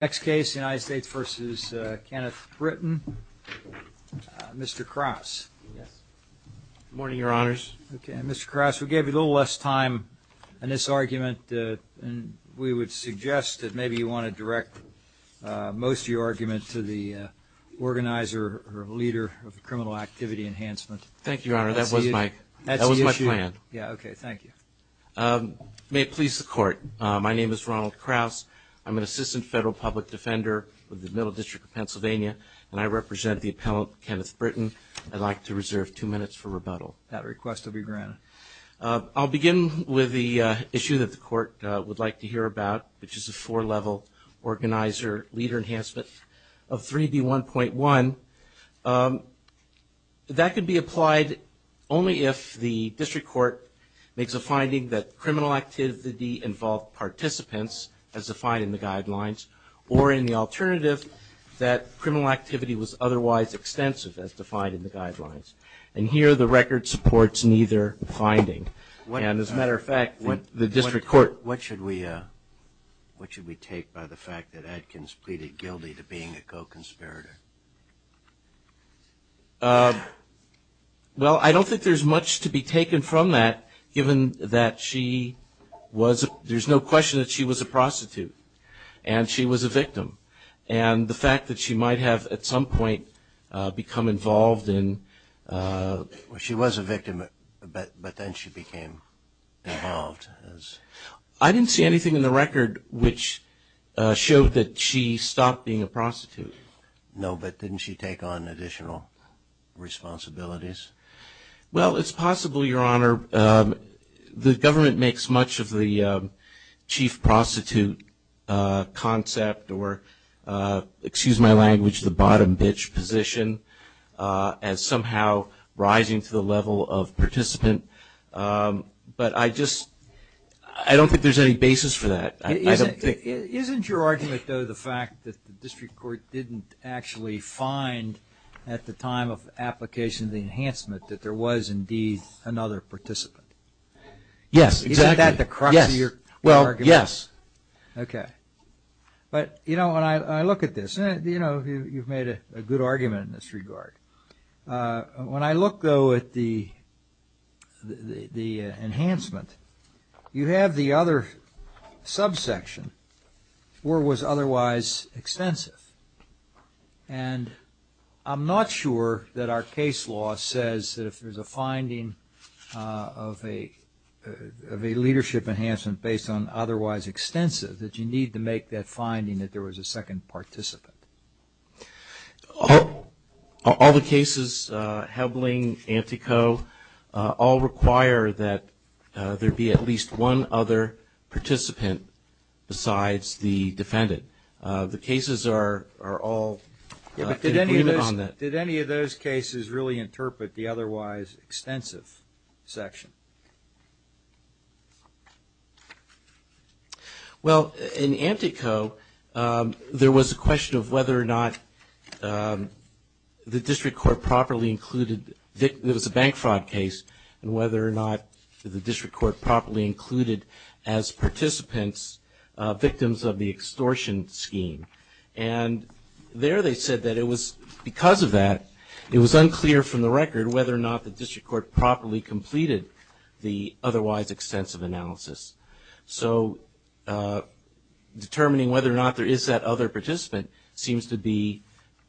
Next case, United States v. Kenneth Britton. Mr. Krause. Good morning, your honors. Okay, Mr. Krause, we gave you a little less time on this argument, and we would suggest that maybe you want to direct most of your argument to the organizer or leader of the Criminal Activity Enhancement. Thank you, your honor. That was my plan. Yeah, okay, thank you. May it please the court. My name is Ronald Krause. I'm an assistant federal public defender with the Middle District of Pennsylvania, and I represent the appellant, Kenneth Britton. I'd like to reserve two minutes for rebuttal. That request will be granted. I'll begin with the issue that the court would like to hear about, which is a four-level organizer-leader enhancement of 3D1.1. That could be applied only if the district court makes a finding that criminal activity involved participants, as defined in the guidelines, or in the alternative that criminal activity was otherwise extensive, as defined in the guidelines. And here the record supports neither finding. And as a matter of fact, the district court… What should we take by the fact that Adkins pleaded guilty to being a co-conspirator? Well, I don't think there's much to be taken from that, given that there's no question that she was a prostitute and she was a victim. And the fact that she might have at some point become involved in… She was a victim, but then she became involved. I didn't see anything in the record which showed that she stopped being a prostitute. No, but didn't she take on additional responsibilities? Well, it's possible, Your Honor. The government makes much of the chief prostitute concept or, excuse my language, the bottom bitch position as somehow rising to the level of participant. But I just don't think there's any basis for that. Isn't your argument, though, the fact that the district court didn't actually find at the time of application of the enhancement that there was indeed another participant? Yes, exactly. Isn't that the crux of your argument? Well, yes. Okay. But, you know, when I look at this, you know, you've made a good argument in this regard. When I look, though, at the enhancement, you have the other subsection where it was otherwise extensive. And I'm not sure that our case law says that if there's a finding of a leadership enhancement based on otherwise extensive that you need to make that finding that there was a second participant. All the cases, Hebling, Antico, all require that there be at least one other participant besides the defendant. The cases are all in agreement on that. Did any of those cases really interpret the otherwise extensive section? Well, in Antico, there was a question of whether or not the district court properly included, it was a bank fraud case, and whether or not the district court properly included as participants victims of the extortion scheme. And there they said that it was because of that, it was unclear from the record whether or not the district court properly completed the otherwise extensive analysis. So determining whether or not there is that other participant seems to be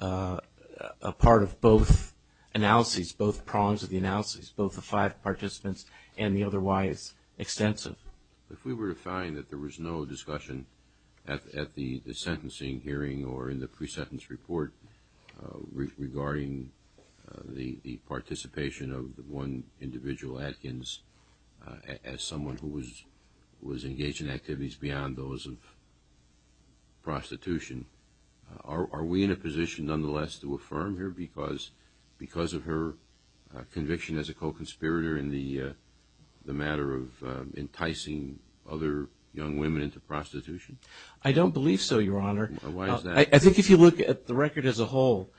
a part of both analyses, both prongs of the analyses, both the five participants and the otherwise extensive. If we were to find that there was no discussion at the sentencing hearing or in the pre-sentence report regarding the participation of one individual, Atkins, as someone who was engaged in activities beyond those of prostitution, are we in a position nonetheless to affirm her because of her conviction as a co-conspirator in the matter of enticing other young women into prostitution? I don't believe so, Your Honor. Why is that? I think if you look at the record as a whole,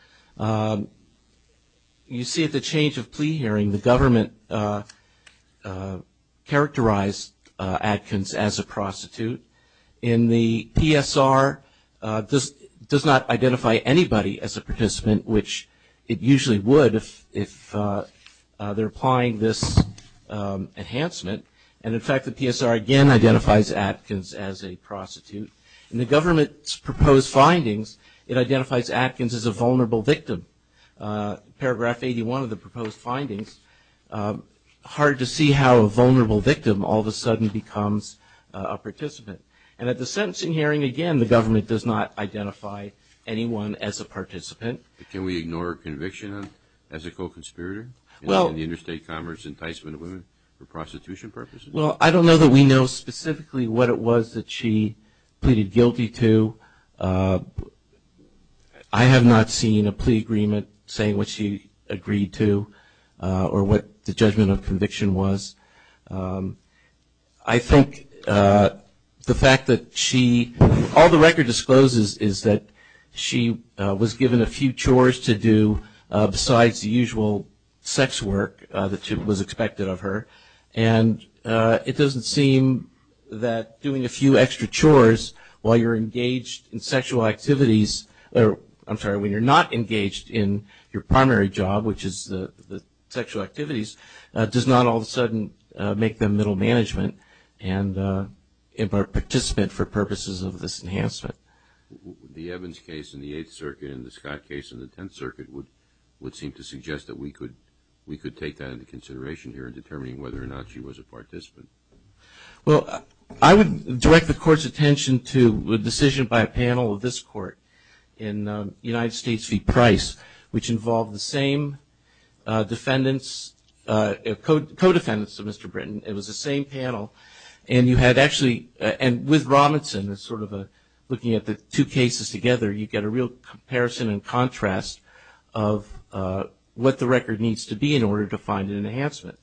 you see at the change of plea hearing, the government characterized Atkins as a prostitute. In the PSR, it does not identify anybody as a participant, which it usually would if they're applying this enhancement. And, in fact, the PSR again identifies Atkins as a prostitute. In the government's proposed findings, it identifies Atkins as a vulnerable victim. Paragraph 81 of the proposed findings, hard to see how a vulnerable victim all of a sudden becomes a participant. And at the sentencing hearing, again, the government does not identify anyone as a participant. Can we ignore her conviction as a co-conspirator in the interstate commerce enticement of women for prostitution purposes? Well, I don't know that we know specifically what it was that she pleaded guilty to. I have not seen a plea agreement saying what she agreed to or what the judgment of conviction was. I think the fact that she, all the record discloses is that she was given a few chores to do, besides the usual sex work that was expected of her. And it doesn't seem that doing a few extra chores while you're engaged in sexual activities, or I'm sorry, when you're not engaged in your primary job, which is the sexual activities, does not all of a sudden make them middle management and a participant for purposes of this enhancement. The Evans case in the Eighth Circuit and the Scott case in the Tenth Circuit would seem to suggest that we could take that into consideration here in determining whether or not she was a participant. Well, I would direct the Court's attention to a decision by a panel of this Court in United States v. Price, which involved the same defendants, co-defendants of Mr. Britton. It was the same panel. And with Robinson, looking at the two cases together, you get a real comparison and contrast of what the record needs to be in order to find an enhancement.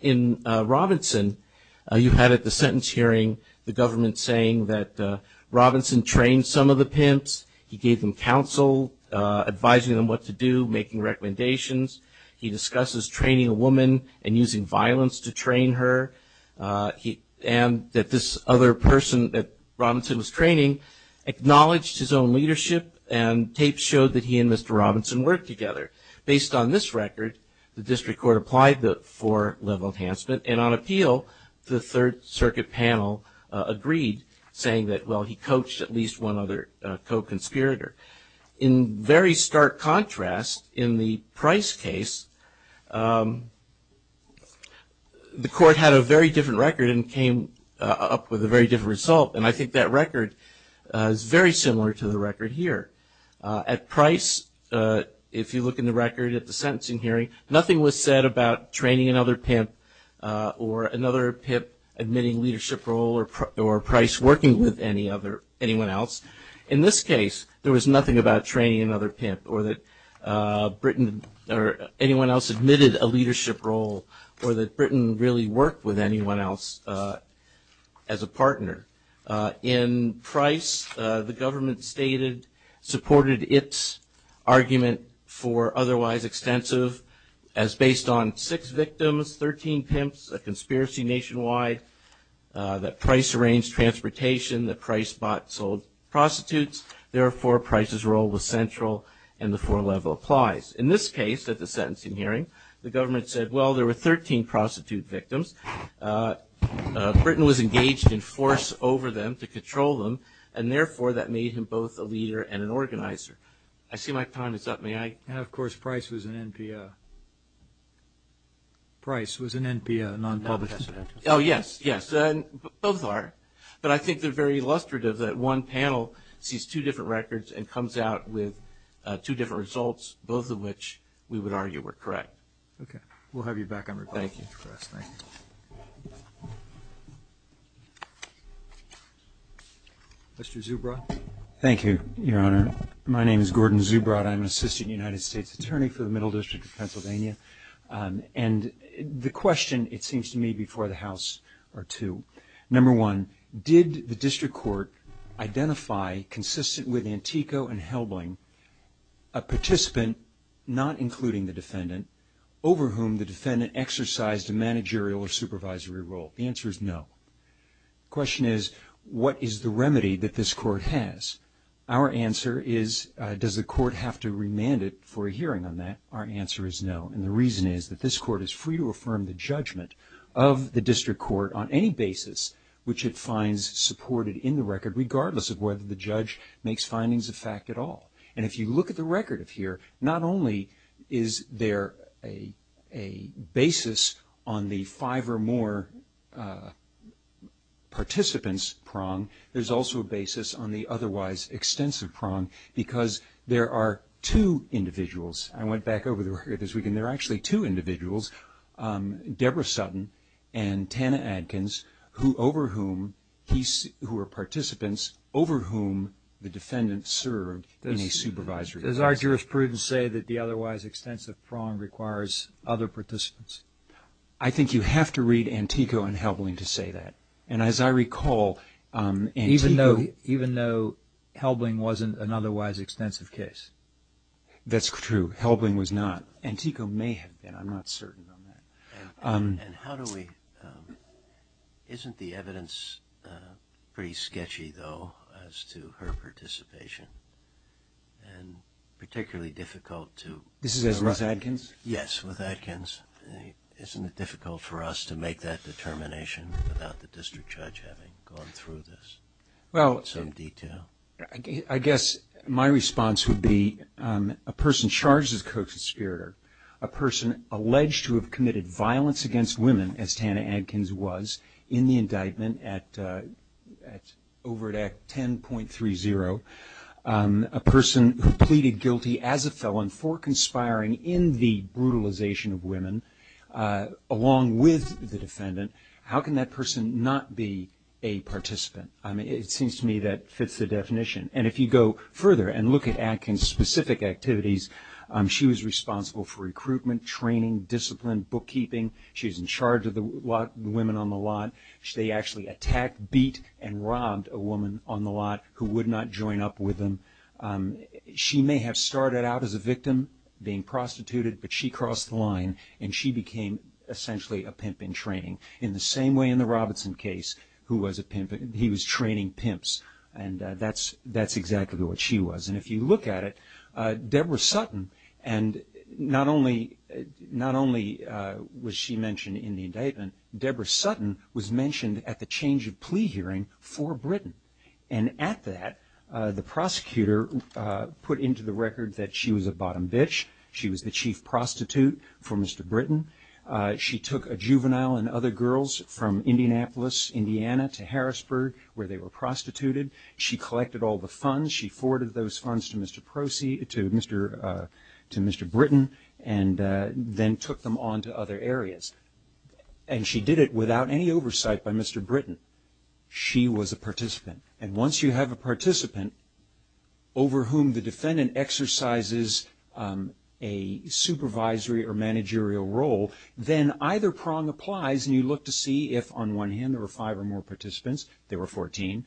In Robinson, you had at the sentence hearing the government saying that Robinson trained some of the pimps. He gave them counsel, advising them what to do, making recommendations. He discusses training a woman and using violence to train her. And that this other person that Robinson was training acknowledged his own leadership and tapes showed that he and Mr. Robinson worked together. Based on this record, the District Court applied for level enhancement, and on appeal the Third Circuit panel agreed, saying that, well, he coached at least one other co-conspirator. In very stark contrast, in the Price case, the Court had a very different record and came up with a very different result, and I think that record is very similar to the record here. At Price, if you look in the record at the sentencing hearing, nothing was said about training another pimp or another pimp admitting leadership role or Price working with anyone else. In this case, there was nothing about training another pimp or that Britain or anyone else admitted a leadership role or that Britain really worked with anyone else as a partner. In Price, the government stated, supported its argument for otherwise extensive, as based on six victims, 13 pimps, a conspiracy nationwide that Price arranged transportation, that Price bought and sold prostitutes. Therefore, Price's role was central and the four-level applies. In this case, at the sentencing hearing, the government said, well, there were 13 prostitute victims. Britain was engaged in force over them to control them, and, therefore, that made him both a leader and an organizer. I see my time is up. May I? And, of course, Price was an NPA. Price was an NPA, a non-publicist. Oh, yes, yes, both are. But I think they're very illustrative that one panel sees two different records and comes out with two different results, both of which we would argue were correct. Okay. We'll have you back on record. Thank you. Mr. Zubrod. Thank you, Your Honor. My name is Gordon Zubrod. I'm an Assistant United States Attorney for the Middle District of Pennsylvania. And the question, it seems to me, before the House are two. Number one, did the district court identify, consistent with Antico and Helbling, a participant, not including the defendant, over whom the defendant exercised a managerial or supervisory role? The answer is no. The question is, what is the remedy that this court has? Our answer is, does the court have to remand it for a hearing on that? Our answer is no. And the reason is that this court is free to affirm the judgment of the district court on any basis which it finds supported in the record, regardless of whether the judge makes findings of fact at all. And if you look at the record here, not only is there a basis on the five or more participants prong, there's also a basis on the otherwise extensive prong, because there are two individuals. I went back over the record this week, and there are actually two individuals, Deborah Sutton and Tana Adkins, who are participants over whom the defendant served in a supervisory role. Does our jurisprudence say that the otherwise extensive prong requires other participants? I think you have to read Antico and Helbling to say that. And as I recall, Antico- Even though Helbling wasn't an otherwise extensive case. That's true. Helbling was not. Antico may have been. I'm not certain on that. And how do we – isn't the evidence pretty sketchy, though, as to her participation and particularly difficult to- This is with Adkins? Yes, with Adkins. Isn't it difficult for us to make that determination without the district judge having gone through this in some detail? I guess my response would be a person charged as a co-conspirator, a person alleged to have committed violence against women, as Tana Adkins was, in the indictment over at Act 10.30, a person who pleaded guilty as a felon for conspiring in the brutalization of women along with the defendant, how can that person not be a participant? It seems to me that fits the definition. And if you go further and look at Adkins' specific activities, she was responsible for recruitment, training, discipline, bookkeeping. She was in charge of the women on the lot. They actually attacked, beat, and robbed a woman on the lot who would not join up with them. She may have started out as a victim, being prostituted, but she crossed the line and she became essentially a pimp in training, in the same way in the Robinson case who was a pimp. He was training pimps, and that's exactly what she was. And if you look at it, Deborah Sutton, and not only was she mentioned in the indictment, Deborah Sutton was mentioned at the change of plea hearing for Britton. And at that, the prosecutor put into the record that she was a bottom bitch. She was the chief prostitute for Mr. Britton. She took a juvenile and other girls from Indianapolis, Indiana, to Harrisburg where they were prostituted. She collected all the funds. She forwarded those funds to Mr. Britton and then took them on to other areas. And she did it without any oversight by Mr. Britton. She was a participant. And once you have a participant over whom the defendant exercises a supervisory or managerial role, then either prong applies. And you look to see if, on one hand, there were five or more participants. There were 14.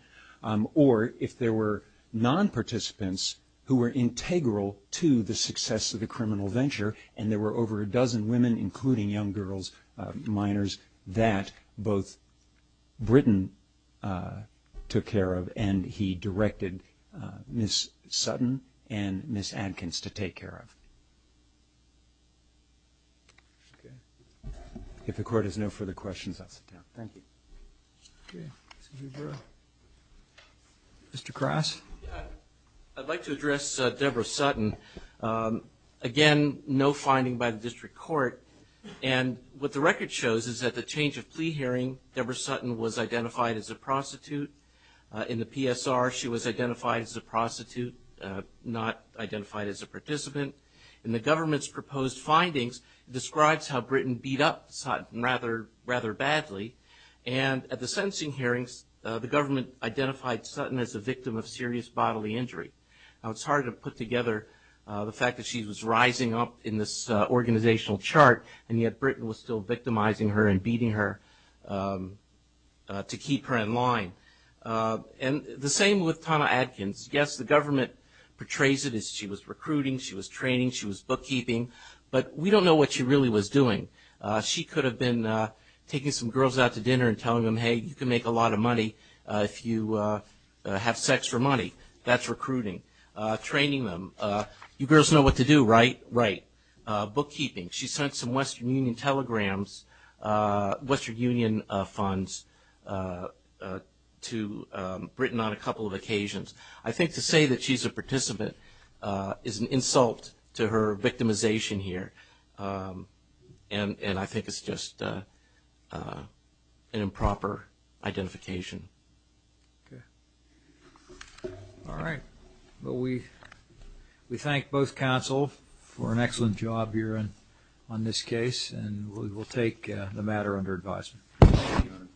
Or if there were non-participants who were integral to the success of the criminal venture, and there were over a dozen women, including young girls, minors, that both Britton took care of and he directed Ms. Sutton and Ms. Adkins to take care of. If the Court has no further questions, I'll sit down. Thank you. Mr. Cross? I'd like to address Deborah Sutton. Again, no finding by the district court. And what the record shows is that the change of plea hearing, Deborah Sutton was identified as a prostitute. In the PSR, she was identified as a prostitute, not identified as a participant. In the government's proposed findings, it describes how Britton beat up Sutton rather badly. And at the sentencing hearings, the government identified Sutton as a victim of serious bodily injury. Now, it's hard to put together the fact that she was rising up in this organizational chart, and yet Britton was still victimizing her and beating her to keep her in line. And the same with Tana Adkins. Yes, the government portrays it as she was recruiting, she was training, she was bookkeeping, but we don't know what she really was doing. She could have been taking some girls out to dinner and telling them, hey, you can make a lot of money if you have sex for money. That's recruiting. Training them. You girls know what to do, right? Right. Bookkeeping. She sent some Western Union telegrams, Western Union funds to Britton on a couple of occasions. I think to say that she's a participant is an insult to her victimization here, and I think it's just an improper identification. Okay. All right. Well, we thank both counsel for an excellent job here on this case, and we will take the matter under advisement. Thank you, Your Honor.